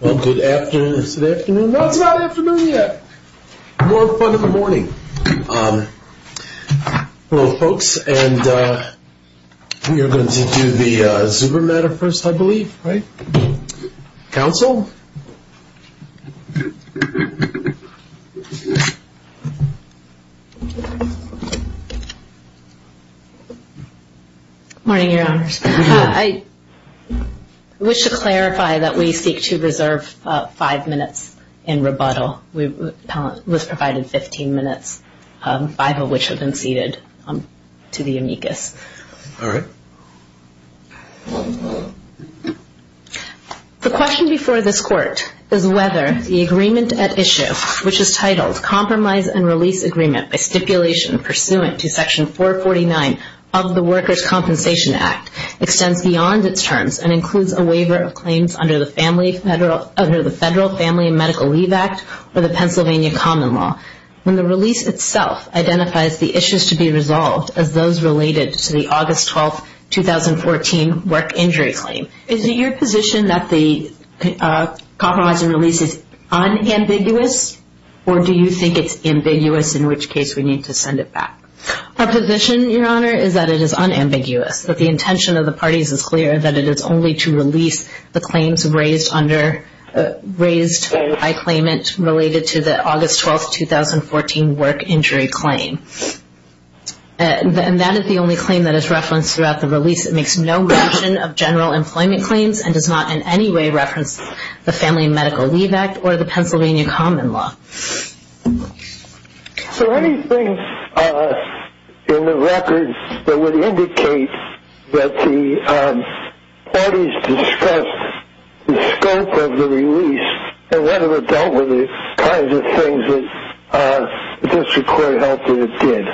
Well, good afternoon. Is it afternoon? No, it's not afternoon yet. More fun in the morning. Well, folks, and we are going to do the Zuber matter first, I believe, right? Counsel? Morning, Your Honors. I wish to clarify that we seek to reserve five minutes in rebuttal. We were provided 15 minutes, five of which have been ceded to the amicus. All right. The question before this Court is whether the agreement at issue, which is titled Compromise and Release Agreement by Stipulation Pursuant to Section 449 of the Workers' Compensation Act, extends beyond its terms and includes a waiver of claims under the Federal Family and Medical Leave Act or the Pennsylvania Common Law. When the release itself identifies the issues to be resolved as those related to the August 12, 2014 work injury claim, is it your position that the compromise and release is unambiguous, or do you think it's ambiguous, in which case we need to send it back? Our position, Your Honor, is that it is unambiguous, that the intention of the parties is clear, that it is only to release the claims raised by claimant related to the August 12, 2014 work injury claim. And that is the only claim that is referenced throughout the release. It makes no mention of general employment claims and does not in any way reference the Family and Medical Leave Act or the Pennsylvania Common Law. Are there any things in the records that would indicate that the parties discussed the scope of the release and whether it dealt with the kinds of things that the District Court held that it did?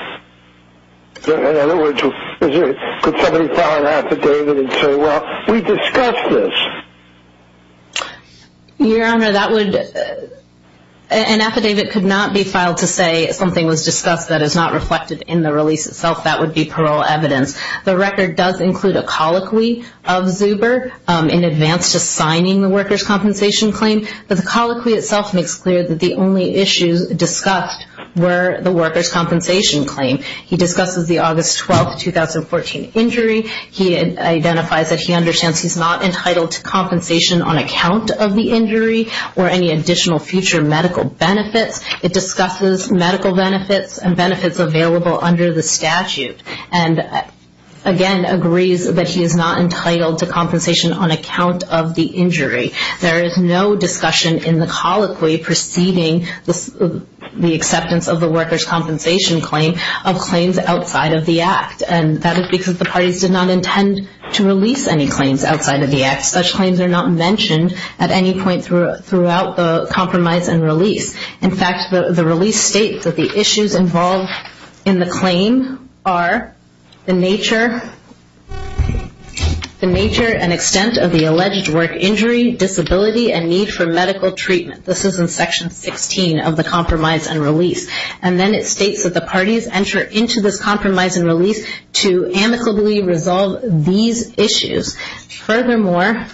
In other words, could somebody file an affidavit and say, well, we discussed this? Your Honor, an affidavit could not be filed to say something was discussed that is not reflected in the release itself. That would be parole evidence. The record does include a colloquy of Zuber in advance to signing the workers' compensation claim, but the colloquy itself makes clear that the only issues discussed were the workers' compensation claim. He discusses the August 12, 2014 injury. He identifies that he understands he's not entitled to compensation on account of the injury or any additional future medical benefits. It discusses medical benefits and benefits available under the statute. And, again, agrees that he is not entitled to compensation on account of the injury. There is no discussion in the colloquy preceding the acceptance of the workers' compensation claim of claims outside of the Act. And that is because the parties did not intend to release any claims outside of the Act. Such claims are not mentioned at any point throughout the compromise and release. In fact, the release states that the issues involved in the claim are the nature and extent of the alleged work injury, disability, and need for medical treatment. This is in Section 16 of the compromise and release. And then it states that the parties enter into this compromise and release to amicably resolve these issues. Furthermore,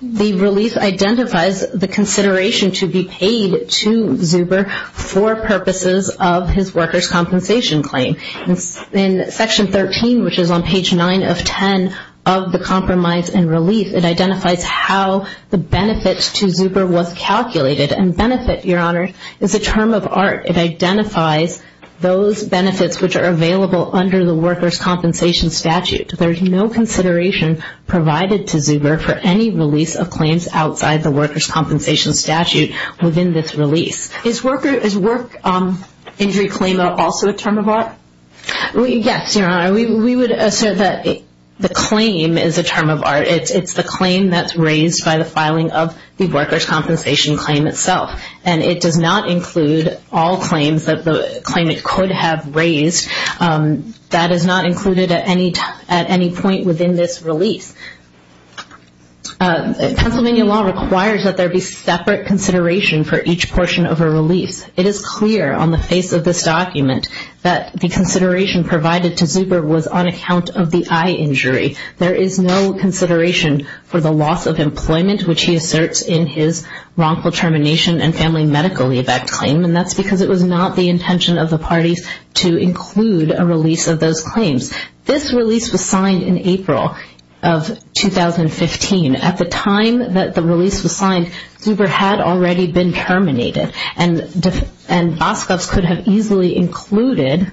the release identifies the consideration to be paid to Zuber for purposes of his workers' compensation claim. In Section 13, which is on page 9 of 10 of the compromise and relief, it identifies how the benefit to Zuber was calculated. And benefit, Your Honor, is a term of art. It identifies those benefits which are available under the workers' compensation statute. There is no consideration provided to Zuber for any release of claims outside the workers' compensation statute within this release. Is work injury claim also a term of art? Yes, Your Honor. It's the claim that's raised by the filing of the workers' compensation claim itself. And it does not include all claims that the claimant could have raised. That is not included at any point within this release. Pennsylvania law requires that there be separate consideration for each portion of a release. It is clear on the face of this document that the consideration provided to Zuber was on account of the eye injury. There is no consideration for the loss of employment, which he asserts in his wrongful termination and family medical leave act claim. And that's because it was not the intention of the parties to include a release of those claims. This release was signed in April of 2015. At the time that the release was signed, Zuber had already been terminated. And Boscovsk could have easily included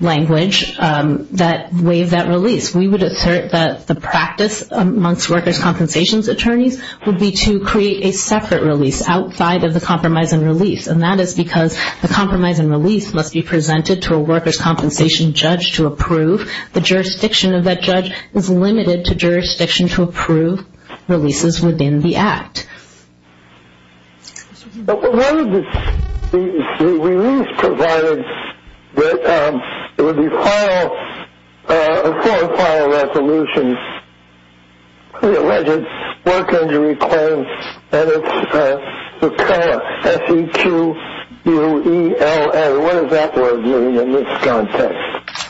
language that waived that release. We would assert that the practice amongst workers' compensation attorneys would be to create a separate release outside of the compromise and release. And that is because the compromise and release must be presented to a workers' compensation judge to approve. The jurisdiction of that judge is limited to jurisdiction to approve releases within the act. The release provided that it would be a full and final resolution of the alleged work injury claim. And it's SEQUELLA, S-E-Q-U-E-L-L. What does that word mean in this context?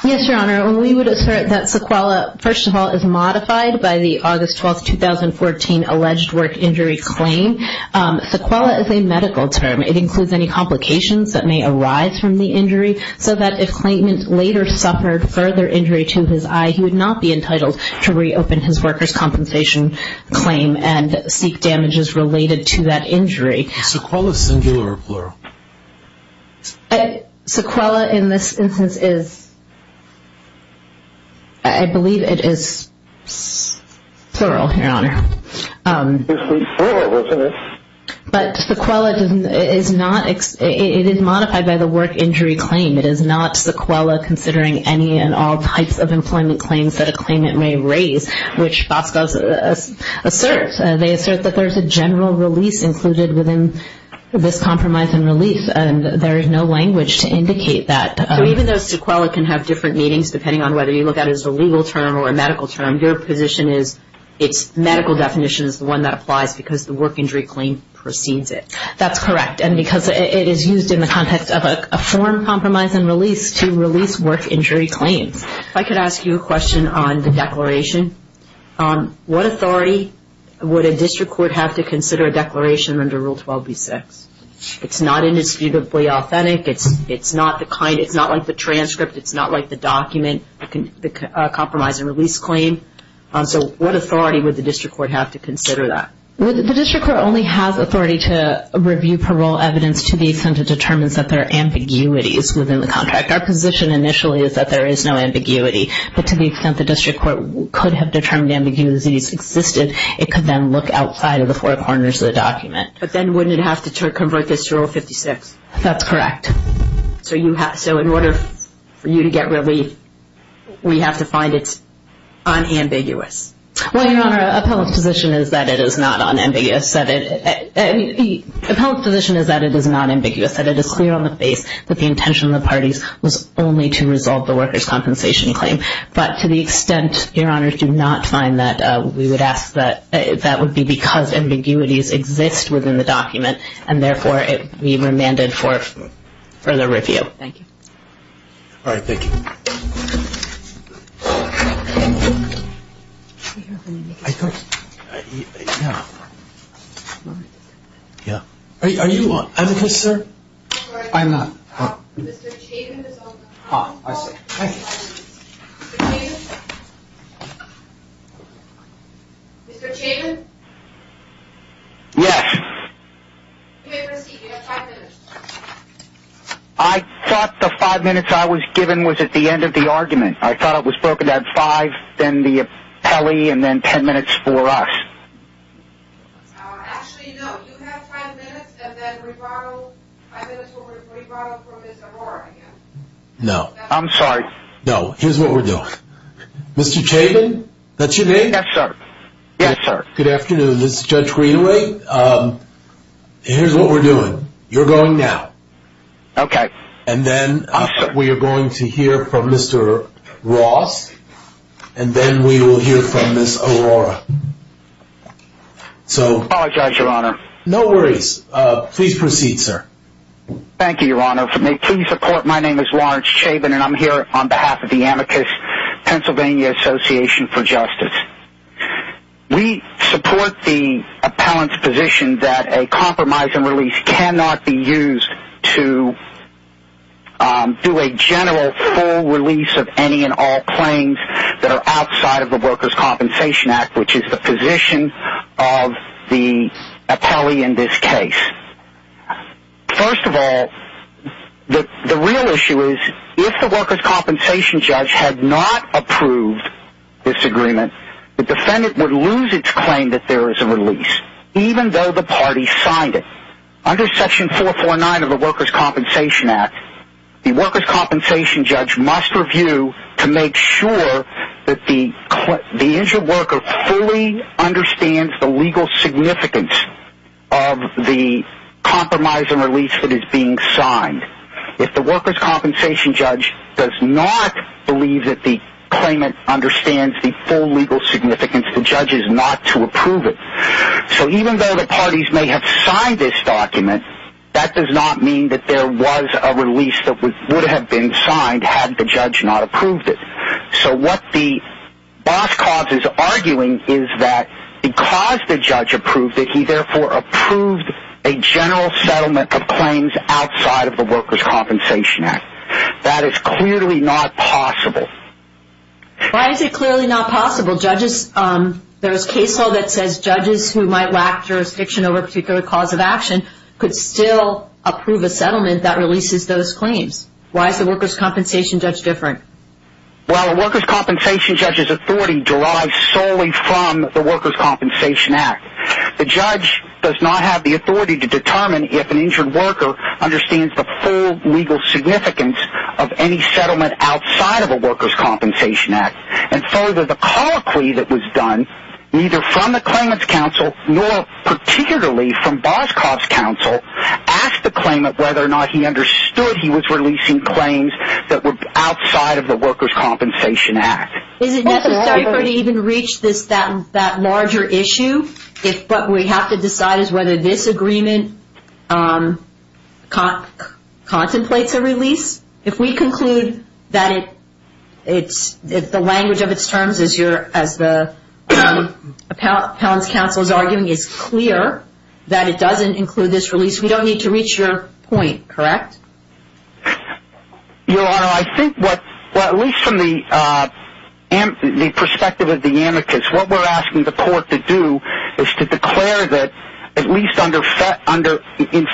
Yes, Your Honor. We would assert that SEQUELLA, first of all, is modified by the August 12, 2014, alleged work injury claim. SEQUELLA is a medical term. It includes any complications that may arise from the injury so that if Clayton later suffered further injury to his eye, he would not be entitled to reopen his workers' compensation claim and seek damages related to that injury. Is SEQUELLA singular or plural? SEQUELLA in this instance is, I believe it is plural, Your Honor. It is plural, isn't it? But SEQUELLA is not, it is modified by the work injury claim. It is not SEQUELLA considering any and all types of employment claims that a claimant may raise, which FOSCOS asserts. They assert that there's a general release included within this compromise and release, and there is no language to indicate that. So even though SEQUELLA can have different meanings, depending on whether you look at it as a legal term or a medical term, your position is its medical definition is the one that applies because the work injury claim precedes it. That's correct. And because it is used in the context of a foreign compromise and release to release work injury claims. If I could ask you a question on the declaration, what authority would a district court have to consider a declaration under Rule 12b-6? It's not indisputably authentic. It's not the kind, it's not like the transcript. It's not like the document, the compromise and release claim. So what authority would the district court have to consider that? Well, the district court only has authority to review parole evidence to the extent it determines that there are ambiguities within the contract. Our position initially is that there is no ambiguity, but to the extent the district court could have determined ambiguities existed, it could then look outside of the four corners of the document. But then wouldn't it have to convert this to Rule 56? That's correct. So in order for you to get relief, we have to find it unambiguous. Well, Your Honor, appellate's position is that it is not unambiguous. Appellate's position is that it is not ambiguous, that it is clear on the face that the intention of the parties was only to resolve the workers' compensation claim. But to the extent, Your Honor, to not find that we would ask that that would be because ambiguities exist within the document and therefore it would be remanded for further review. Thank you. All right. Thank you. Are you an advocate, sir? I'm not. Mr. Chapin is on the phone. Ah, I see. Thank you. Mr. Chapin? Mr. Chapin? Yes. You may proceed. You have five minutes. I thought the five minutes I was given was at the end of the argument. I thought it was broken down. Five, then the appellee, and then ten minutes for us. Actually, no. You have five minutes, and then five minutes will re-bottle for Ms. Arora again. No. I'm sorry. No. Here's what we're doing. Mr. Chapin? That's your name? Yes, sir. Yes, sir. Good afternoon. This is Judge Greenaway. Here's what we're doing. You're going now. Okay. And then we are going to hear from Mr. Ross, and then we will hear from Ms. Arora. I apologize, Your Honor. No worries. Please proceed, sir. Thank you, Your Honor. My name is Lawrence Chapin, and I'm here on behalf of the Amicus Pennsylvania Association for Justice. We support the appellant's position that a compromise and release cannot be used to do a general, full release of any and all claims that are outside of the Workers' Compensation Act, which is the position of the appellee in this case. First of all, the real issue is if the Workers' Compensation judge had not approved this agreement, the defendant would lose its claim that there is a release, even though the party signed it. Under Section 449 of the Workers' Compensation Act, the Workers' Compensation judge must review to make sure that the injured worker fully understands the legal significance of the compromise and release that is being signed. If the Workers' Compensation judge does not believe that the claimant understands the full legal significance, the judge is not to approve it. So even though the parties may have signed this document, that does not mean that there was a release that would have been signed had the judge not approved it. So what the boss cause is arguing is that because the judge approved it, he therefore approved a general settlement of claims outside of the Workers' Compensation Act. That is clearly not possible. Why is it clearly not possible? There is case law that says judges who might lack jurisdiction over a particular cause of action could still approve a settlement that releases those claims. Why is the Workers' Compensation judge different? Well, the Workers' Compensation judge's authority derives solely from the Workers' Compensation Act. The judge does not have the authority to determine if an injured worker understands the full legal significance of any settlement outside of the Workers' Compensation Act. And further, the colloquy that was done, neither from the claimant's counsel, nor particularly from Boscoff's counsel, asked the claimant whether or not he understood he was releasing claims that were outside of the Workers' Compensation Act. Is it necessary for it to even reach that larger issue? What we have to decide is whether this agreement contemplates a release. If we conclude that the language of its terms, as the appellant's counsel is arguing, is clear that it doesn't include this release, we don't need to reach your point, correct? Your Honor, I think what, at least from the perspective of the amicus, what we're asking the court to do is to declare that, at least in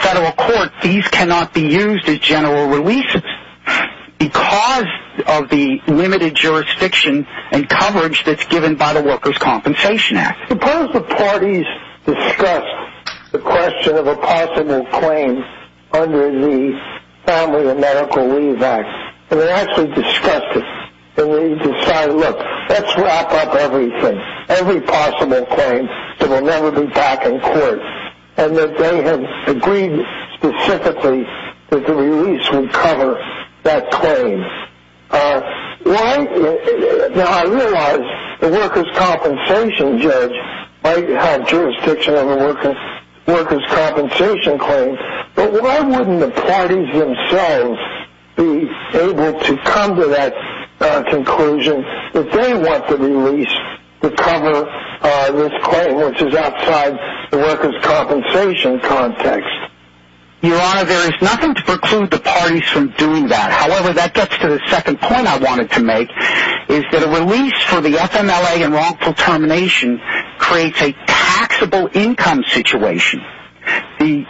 federal court, these cannot be used as general releases because of the limited jurisdiction and coverage that's given by the Workers' Compensation Act. Suppose the parties discussed the question of a possible claim under the Family and Medical Leave Act, and they actually discussed it, and they decided, look, let's wrap up everything, every possible claim that will never be back in court, and that they have agreed specifically that the release would cover that claim. Now, I realize the workers' compensation judge might have jurisdiction over workers' compensation claims, but why wouldn't the parties themselves be able to come to that conclusion that they want the release to cover this claim, which is outside the workers' compensation context? Your Honor, there is nothing to preclude the parties from doing that. However, that gets to the second point I wanted to make, is that a release for the FMLA and wrongful termination creates a taxable income situation. The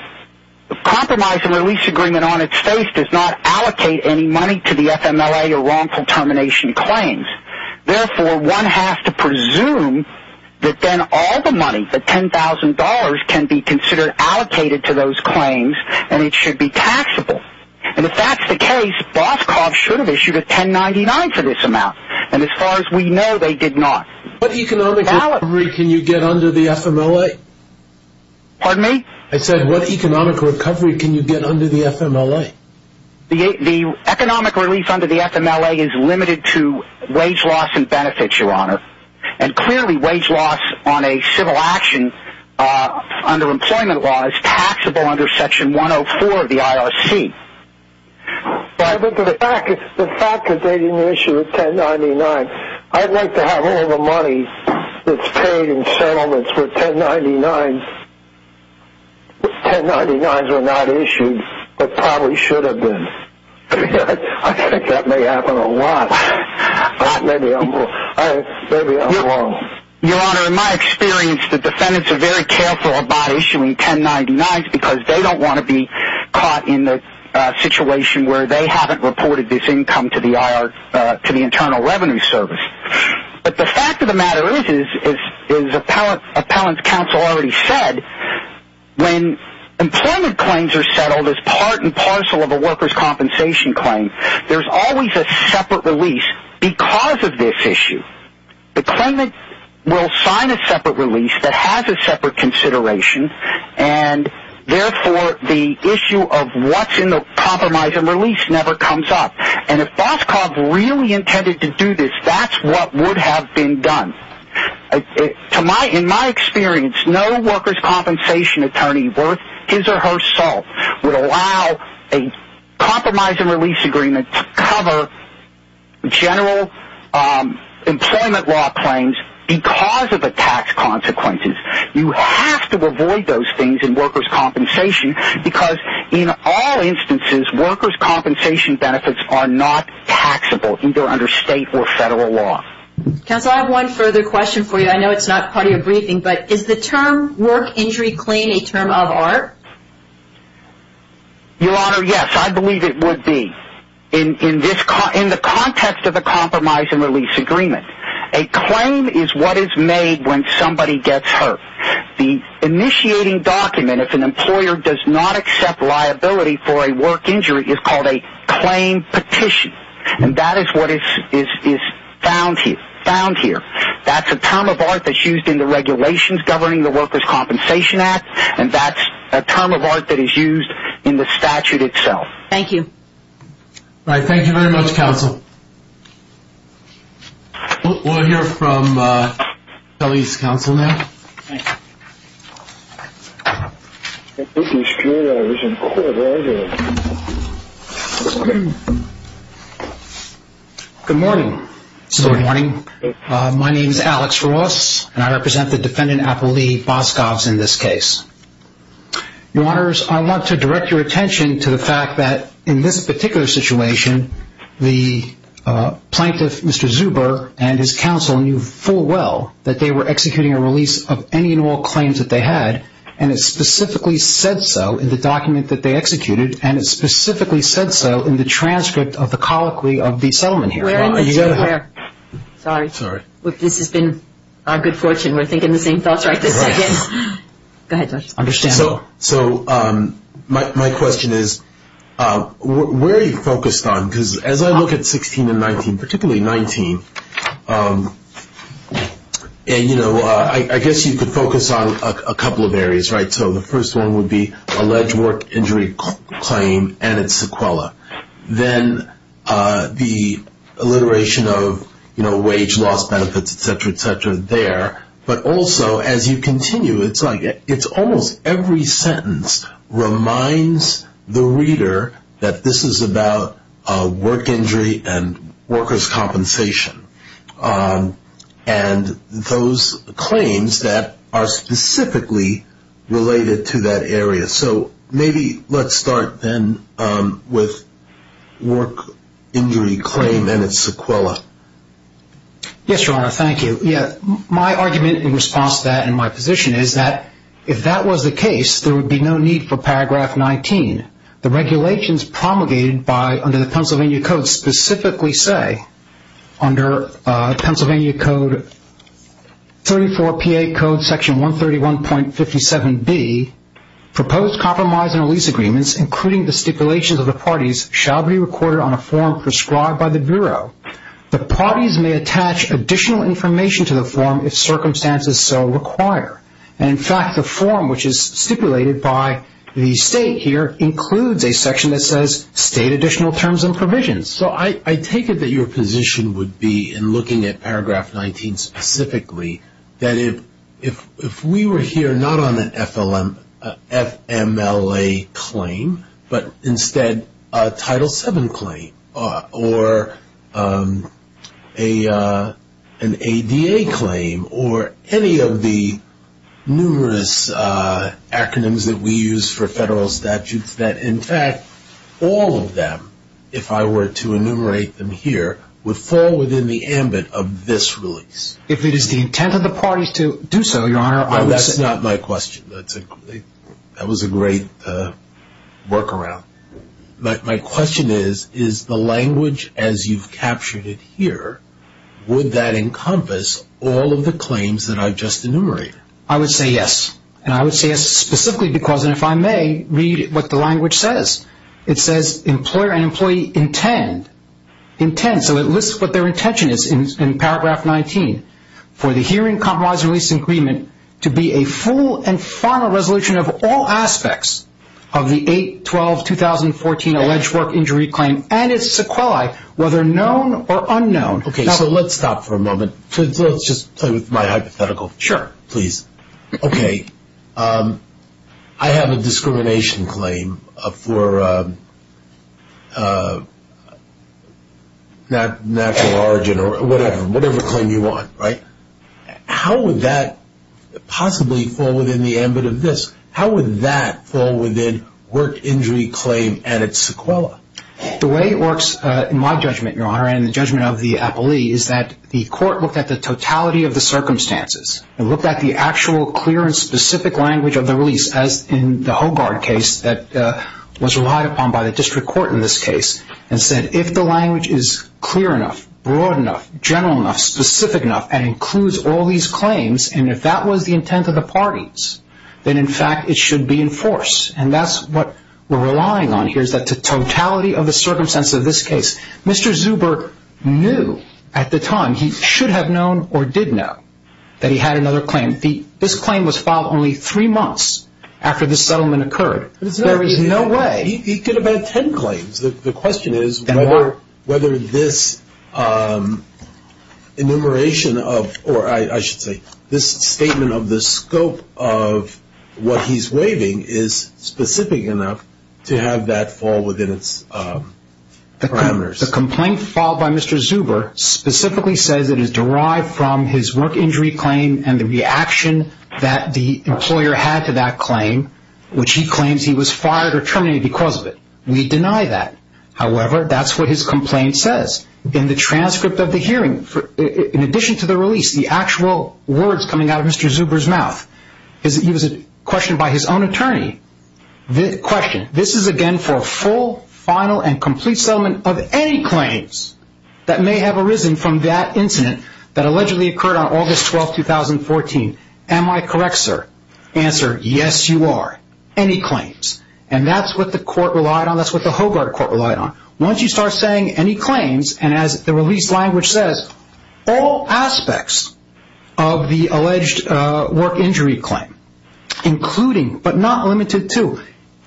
compromise and release agreement on its face does not allocate any money to the FMLA or wrongful termination claims. Therefore, one has to presume that then all the money, the $10,000, can be considered allocated to those claims, and it should be taxable. And if that's the case, Boscov should have issued a 1099 for this amount, and as far as we know, they did not. What economic recovery can you get under the FMLA? Pardon me? I said, what economic recovery can you get under the FMLA? The economic release under the FMLA is limited to wage loss and benefits, Your Honor, and clearly wage loss on a civil action under employment law is taxable under Section 104 of the IRC. But the fact that they didn't issue a 1099, I'd like to have all the money that's paid in settlements with 1099s. 1099s were not issued, but probably should have been. I think that may happen a lot. Maybe I'm wrong. Your Honor, in my experience, the defendants are very careful about issuing 1099s because they don't want to be caught in the situation where they haven't reported this income to the Internal Revenue Service. But the fact of the matter is, as Appellant's Counsel already said, when employment claims are settled as part and parcel of a workers' compensation claim, there's always a separate release because of this issue. The claimant will sign a separate release that has a separate consideration, and therefore the issue of what's in the compromise and release never comes up. And if Boscov really intended to do this, that's what would have been done. In my experience, no workers' compensation attorney worth his or her salt would allow a compromise and release agreement to cover general employment law claims because of the tax consequences. You have to avoid those things in workers' compensation because, in all instances, workers' compensation benefits are not taxable, either under state or federal law. Counsel, I have one further question for you. I know it's not part of your briefing, but is the term work injury claim a term of art? Your Honor, yes, I believe it would be. In the context of a compromise and release agreement, a claim is what is made when somebody gets hurt. The initiating document, if an employer does not accept liability for a work injury, is called a claim petition. And that is what is found here. That's a term of art that's used in the regulations governing the Workers' Compensation Act, and that's a term of art that is used in the statute itself. Thank you. All right. Thank you very much, Counsel. We'll hear from Kelly's counsel now. Thank you. Good morning. Good morning. My name is Alex Ross, and I represent the defendant, Apple Lee Boskovs, in this case. Your Honors, I want to direct your attention to the fact that, in this particular situation, the plaintiff, Mr. Zuber, and his counsel knew full well that they were executing a release of any and all claims that they had, and it specifically said so in the document that they executed, and it specifically said so in the transcript of the colloquy of the settlement here. Sorry. Sorry. This has been our good fortune. Go ahead, Judge. So my question is, where are you focused on? Because as I look at 16 and 19, particularly 19, and, you know, I guess you could focus on a couple of areas, right? So the first one would be alleged work injury claim and its sequela. Then the alliteration of, you know, wage loss benefits, et cetera, et cetera, there. But also, as you continue, it's like it's almost every sentence reminds the reader that this is about work injury and workers' compensation, and those claims that are specifically related to that area. So maybe let's start then with work injury claim and its sequela. Yes, Your Honor. Thank you. My argument in response to that and my position is that if that was the case, there would be no need for paragraph 19. The regulations promulgated under the Pennsylvania Code specifically say, under Pennsylvania Code 34PA Code Section 131.57B, proposed compromise and release agreements, including the stipulations of the parties, shall be recorded on a form prescribed by the Bureau. The parties may attach additional information to the form if circumstances so require. And, in fact, the form, which is stipulated by the State here, includes a section that says State additional terms and provisions. So I take it that your position would be, in looking at paragraph 19 specifically, that if we were here not on an FMLA claim, but instead a Title VII claim or an ADA claim or any of the numerous acronyms that we use for federal statutes, that, in fact, all of them, if I were to enumerate them here, would fall within the ambit of this release. If it is the intent of the parties to do so, Your Honor, I would say... Well, that's not my question. That was a great workaround. But my question is, is the language as you've captured it here, would that encompass all of the claims that I've just enumerated? I would say yes. And I would say yes specifically because, and if I may, read what the language says. It says employer and employee intend, intend, so it lists what their intention is in paragraph 19, for the hearing, compromise, release, and agreement to be a full and final resolution of all aspects of the 8-12-2014 alleged work injury claim and its sequelae, whether known or unknown. Okay, so let's stop for a moment. Let's just play with my hypothetical. Sure. Okay, I have a discrimination claim for natural origin or whatever, whatever claim you want, right? How would that possibly fall within the ambit of this? How would that fall within work injury claim and its sequelae? The way it works, in my judgment, Your Honor, and the judgment of the appellee, is that the court looked at the totality of the circumstances, and looked at the actual clear and specific language of the release, as in the Hogard case that was relied upon by the district court in this case, and said if the language is clear enough, broad enough, general enough, specific enough, and includes all these claims, and if that was the intent of the parties, then in fact it should be enforced. And that's what we're relying on here, is that the totality of the circumstances of this case. Mr. Zuber knew at the time, he should have known or did know, that he had another claim. This claim was filed only three months after this settlement occurred. There is no way. He could have had ten claims. The question is whether this enumeration of, or I should say, this statement of the scope of what he's waiving is specific enough to have that fall within its parameters. The complaint filed by Mr. Zuber specifically says it is derived from his work injury claim and the reaction that the employer had to that claim, which he claims he was fired or terminated because of it. We deny that. However, that's what his complaint says. In the transcript of the hearing, in addition to the release, the actual words coming out of Mr. Zuber's mouth, he was questioned by his own attorney. The question, this is again for a full, final, and complete settlement of any claims that may have arisen from that incident that allegedly occurred on August 12, 2014. Am I correct, sir? Answer, yes, you are. Any claims. That's what the court relied on. That's what the Hogart court relied on. Once you start saying any claims, and as the release language says, all aspects of the alleged work injury claim, including, but not limited to,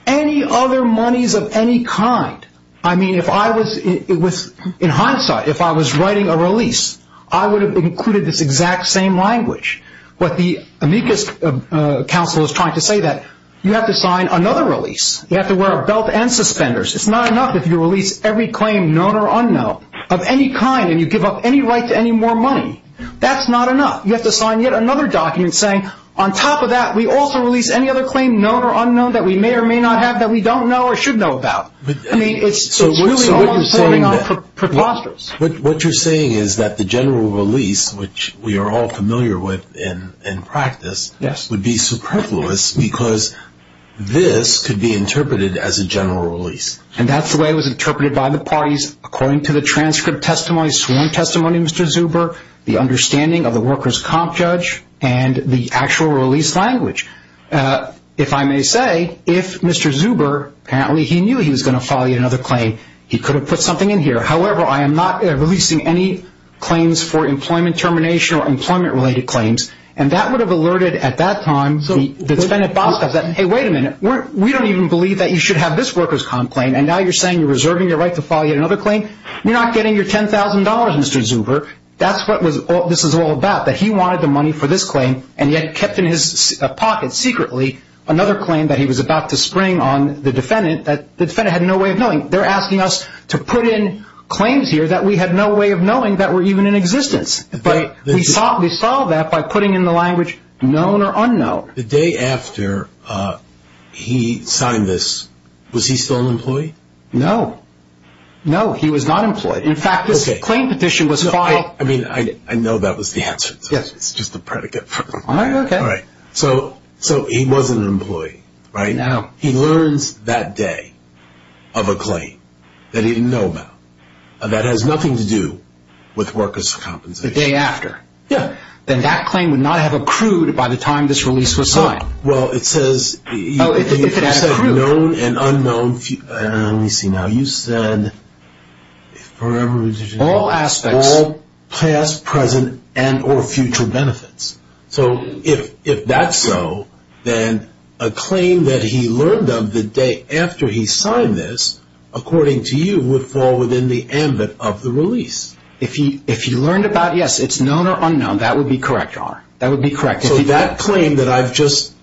any other monies of any kind. I mean, if I was, in hindsight, if I was writing a release, I would have included this exact same language. What the amicus counsel is trying to say that you have to sign another release. You have to wear a belt and suspenders. It's not enough if you release every claim, known or unknown, of any kind, and you give up any right to any more money. That's not enough. You have to sign yet another document saying, on top of that, we also release any other claim, known or unknown, that we may or may not have, that we don't know or should know about. I mean, it's really almost holding on preposterous. What you're saying is that the general release, which we are all familiar with in practice, would be superfluous because this could be interpreted as a general release. And that's the way it was interpreted by the parties, according to the transcript testimony, sworn testimony of Mr. Zuber, the understanding of the workers' comp judge, and the actual release language. If I may say, if Mr. Zuber, apparently he knew he was going to file yet another claim, he could have put something in here. However, I am not releasing any claims for employment termination or employment-related claims. And that would have alerted, at that time, the defendant, Bostoff, that, hey, wait a minute, we don't even believe that you should have this workers' comp claim, and now you're saying you're reserving your right to file yet another claim? You're not getting your $10,000, Mr. Zuber. That's what this is all about, that he wanted the money for this claim, and yet kept in his pocket secretly another claim that he was about to spring on the defendant that the defendant had no way of knowing. They're asking us to put in claims here that we had no way of knowing that were even in existence. But we solved that by putting in the language, known or unknown. The day after he signed this, was he still an employee? No. No, he was not employed. In fact, this claim petition was filed. I mean, I know that was the answer. Yes. It's just a predicate. All right, okay. So he was an employee, right? No. He learns that day of a claim that he didn't know about, that has nothing to do with workers' compensation. The day after? Yeah. Then that claim would not have accrued by the time this release was signed. Well, it says, if you said known and unknown, let me see now, you said, all past, present, and or future benefits. So if that's so, then a claim that he learned of the day after he signed this, according to you, would fall within the ambit of the release. Yes. If he learned about, yes, it's known or unknown, that would be correct, Your Honor. That would be correct. So that claim that I've just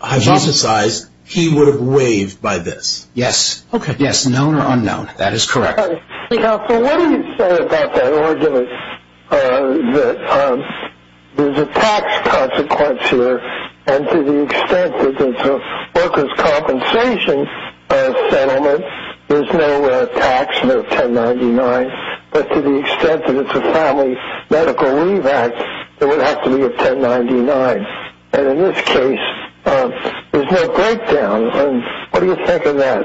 hypothesized, he would have waived by this? Yes. Okay. Yes, known or unknown. That is correct. So what do you say about that argument that there's a tax consequence here, and to the extent that there's a workers' compensation settlement, there's no tax, no 1099, but to the extent that it's a family medical leave act, there would have to be a 1099. And in this case, there's no breakdown. What do you think of that?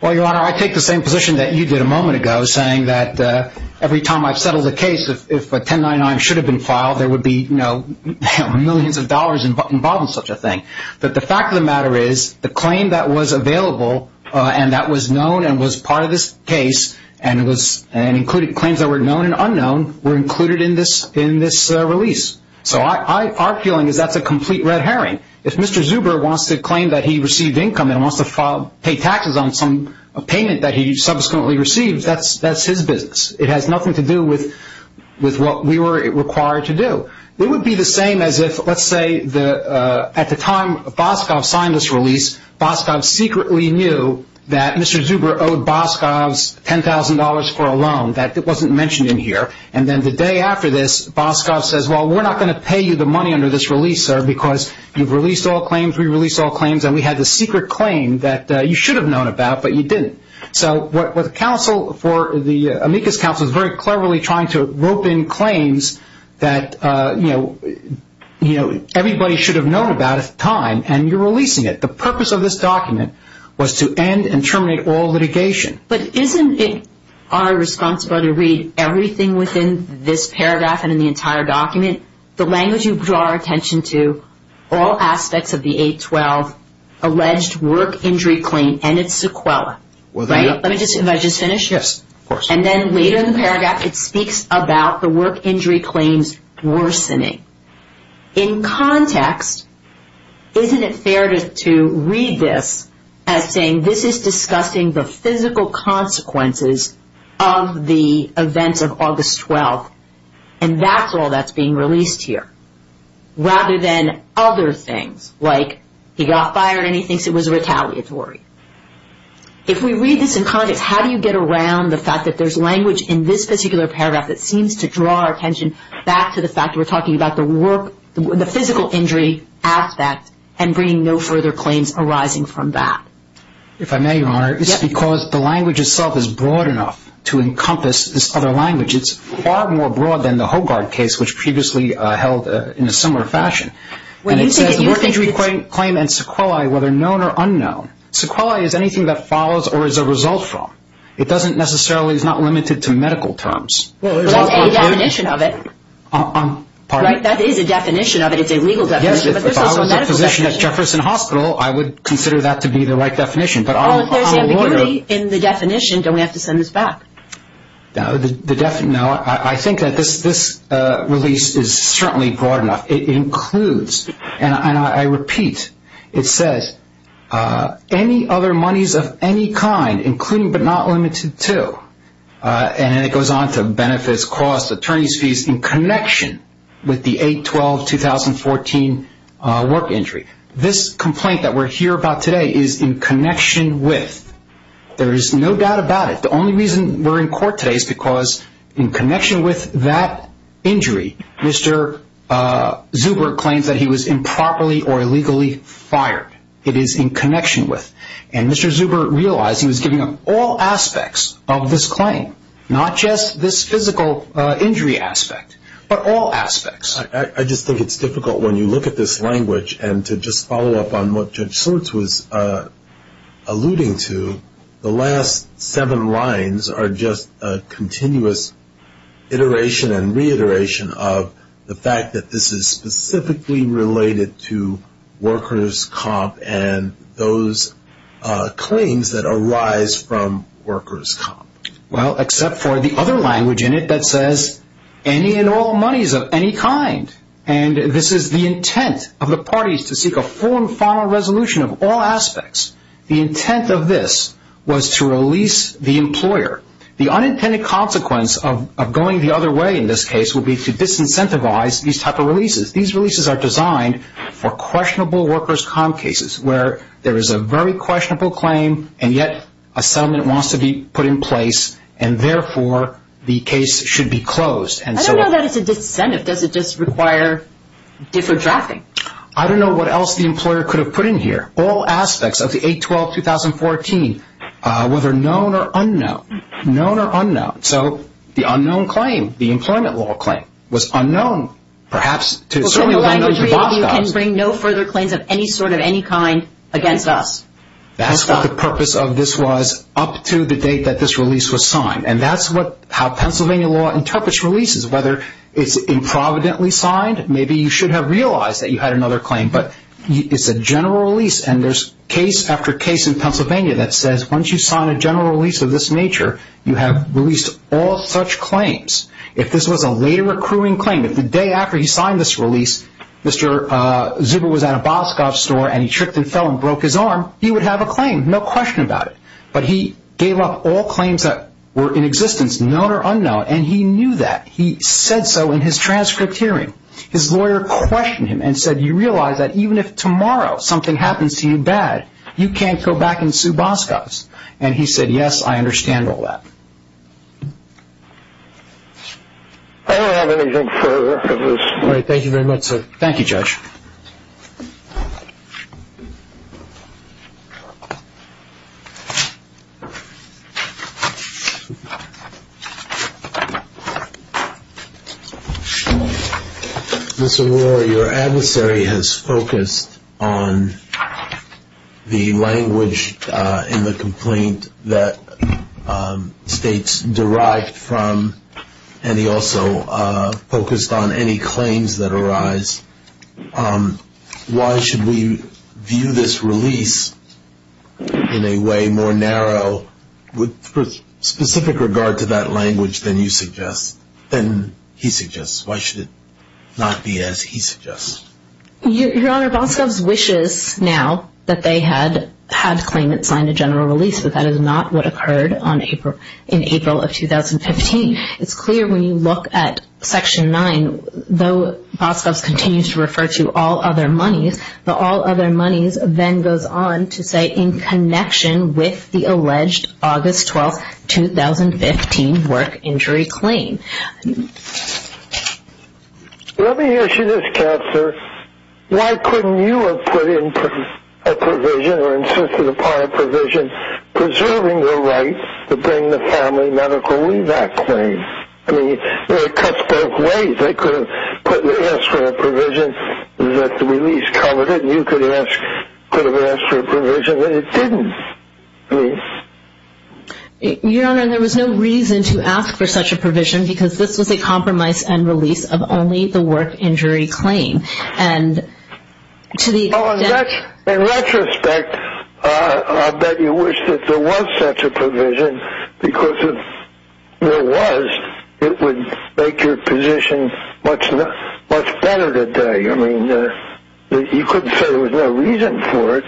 Well, Your Honor, I take the same position that you did a moment ago, saying that every time I've settled a case, if a 1099 should have been filed, there would be millions of dollars involved in such a thing. But the fact of the matter is, the claim that was available, and that was known and was part of this case, and claims that were known and unknown were included in this release. So our feeling is that's a complete red herring. If Mr. Zuber wants to claim that he received income and wants to pay taxes on some payment that he subsequently received, that's his business. It has nothing to do with what we were required to do. It would be the same as if, let's say, at the time Boscov signed this release, Boscov secretly knew that Mr. Zuber owed Boscov $10,000 for a loan. That wasn't mentioned in here. And then the day after this, Boscov says, well, we're not going to pay you the money under this release, sir, because you've released all claims, we've released all claims, and we had this secret claim that you should have known about, but you didn't. So what the Amicus Council is very cleverly trying to rope in claims that, you know, everybody should have known about at the time, and you're releasing it. The purpose of this document was to end and terminate all litigation. But isn't it our responsibility to read everything within this paragraph and in the entire document, the language you draw our attention to, all aspects of the 812 alleged work injury claim and its sequela? Right? If I just finish? Yes, of course. And then later in the paragraph, it speaks about the work injury claims worsening. In context, isn't it fair to read this as saying this is discussing the physical consequences of the events of August 12th, and that's all that's being released here, rather than other things, like he got fired and he thinks it was retaliatory. If we read this in context, how do you get around the fact that there's language in this particular paragraph that seems to draw our attention back to the fact that we're talking about the work, the physical injury aspect, and bringing no further claims arising from that? If I may, Your Honor, it's because the language itself is broad enough to encompass this other language. It's far more broad than the Hogard case, which previously held in a similar fashion. And it says the work injury claim and sequelae, whether known or unknown, sequelae is anything that follows or is a result from. It doesn't necessarily, it's not limited to medical terms. Well, that's a definition of it. Pardon me? That is a definition of it. It's a legal definition, but there's also a medical definition. Yes, if I was a physician at Jefferson Hospital, I would consider that to be the right definition. Oh, if there's ambiguity in the definition, don't we have to send this back? No, I think that this release is certainly broad enough. It includes, and I repeat, it says any other monies of any kind, including but not limited to, and then it goes on to benefits, costs, attorney's fees, in connection with the 8-12-2014 work injury. This complaint that we're here about today is in connection with. There is no doubt about it. The only reason we're in court today is because in connection with that injury, Mr. Zuber claims that he was improperly or illegally fired. It is in connection with. And Mr. Zuber realized he was giving up all aspects of this claim, not just this physical injury aspect, but all aspects. I just think it's difficult when you look at this language and to just follow up on what Judge Swartz was alluding to, the last seven lines are just a continuous iteration and reiteration of the fact that this is specifically related to workers' comp and those claims that arise from workers' comp. Well, except for the other language in it that says any and all monies of any kind. And this is the intent of the parties to seek a full and final resolution of all aspects. The intent of this was to release the employer. The unintended consequence of going the other way in this case will be to disincentivize these type of releases. These releases are designed for questionable workers' comp cases, where there is a very questionable claim, and yet a settlement wants to be put in place, and therefore the case should be closed. I don't know that it's a disincentive. Does it just require different drafting? I don't know what else the employer could have put in here. All aspects of the 8-12-2014, whether known or unknown. Known or unknown. So the unknown claim, the employment law claim, was unknown, perhaps to certain Boscovskis. You can bring no further claims of any sort of any kind against us. That's what the purpose of this was up to the date that this release was signed. And that's how Pennsylvania law interprets releases, whether it's improvidently signed. Maybe you should have realized that you had another claim, but it's a general release, and there's case after case in Pennsylvania that says once you sign a general release of this nature, you have released all such claims. If this was a later accruing claim, if the day after he signed this release, Mr. Zuber was at a Boscov store and he tripped and fell and broke his arm, he would have a claim, no question about it. But he gave up all claims that were in existence, known or unknown, and he knew that. He said so in his transcript hearing. His lawyer questioned him and said, you realize that even if tomorrow something happens to you bad, you can't go back and sue Boscovskis. And he said, yes, I understand all that. I don't have anything further. Thank you very much, sir. Thank you, Judge. Mr. O'Rourke, your adversary has focused on the language in the complaint that states derived from, and he also focused on any claims that arise. Why should we view this release in a way more narrow with specific regard to that language than you suggest, than he suggests? Why should it not be as he suggests? Your Honor, Boscovskis wishes now that they had had claimants sign a general release, but that is not what occurred in April of 2015. It's clear when you look at Section 9, though Boscovskis continues to refer to all other monies, the all other monies then goes on to say in connection with the alleged August 12, 2015 work injury claim. Let me ask you this, Counselor. Why couldn't you have put in a provision or insisted upon a provision preserving the right to bring the family medical leave back claim? I mean, it cuts both ways. They could have asked for a provision that the release covered it, and you could have asked for a provision that it didn't. Your Honor, there was no reason to ask for such a provision because this was a compromise and release of only the work injury claim. In retrospect, I bet you wish that there was such a provision because if there was, it would make your position much better today. I mean, you couldn't say there was no reason for it.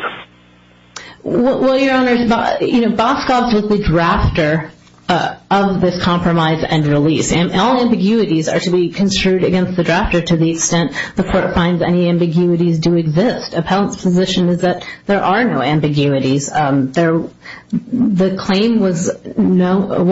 Well, Your Honor, Boscovskis was the drafter of this compromise and release, and all ambiguities are to be construed against the drafter to the extent the court finds any ambiguities do exist. Appellant's position is that there are no ambiguities. The claim was known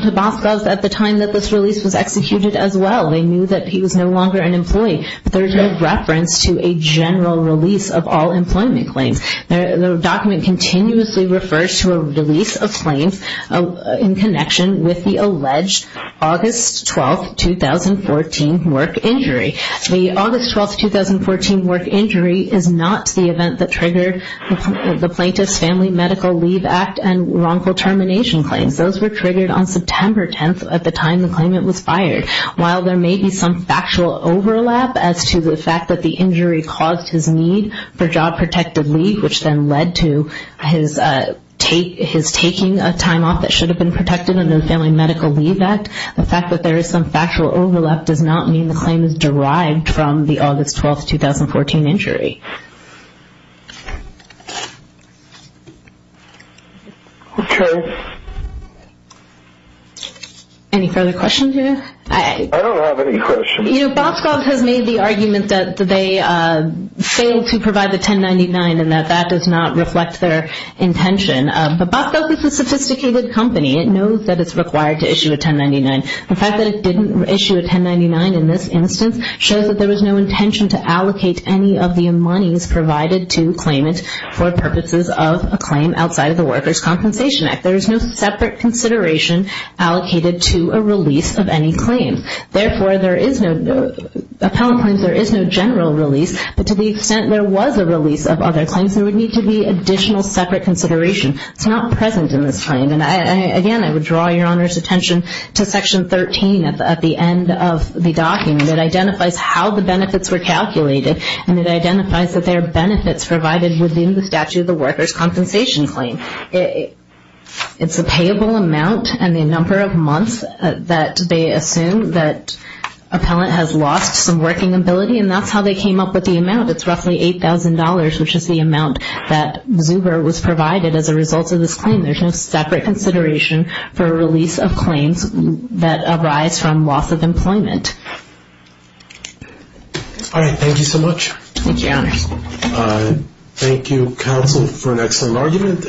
to Boscovskis at the time that this release was executed as well. They knew that he was no longer an employee, but there is no reference to a general release of all employment claims. The document continuously refers to a release of claims in connection with the alleged August 12, 2014 work injury. The August 12, 2014 work injury is not the event that triggered the Plaintiff's Family Medical Leave Act and wrongful termination claims. Those were triggered on September 10th at the time the claimant was fired. While there may be some factual overlap as to the fact that the injury caused his need for job-protected leave, which then led to his taking a time off that should have been protected under the Family Medical Leave Act, the fact that there is some factual overlap does not mean the claim is derived from the August 12, 2014 injury. Okay. Any further questions here? I don't have any questions. You know, Boscov has made the argument that they failed to provide the 1099 and that that does not reflect their intention. But Boscov is a sophisticated company. It knows that it's required to issue a 1099. The fact that it didn't issue a 1099 in this instance shows that there was no intention to allocate any of the monies provided to claimant for purposes of a claim outside of the Workers' Compensation Act. There is no separate consideration allocated to a release of any claim. Therefore, there is no – appellant claims, there is no general release. But to the extent there was a release of other claims, there would need to be additional separate consideration. It's not present in this claim. And, again, I would draw Your Honor's attention to Section 13 at the end of the document. It identifies how the benefits were calculated, and it identifies that there are benefits provided within the statute of the Workers' Compensation claim. It's a payable amount and the number of months that they assume that appellant has lost some working ability, and that's how they came up with the amount. It's roughly $8,000, which is the amount that Zuber was provided as a result of this claim. There's no separate consideration for a release of claims that arise from loss of employment. All right, thank you so much. Thank you, Your Honor. Thank you, counsel, for an excellent argument.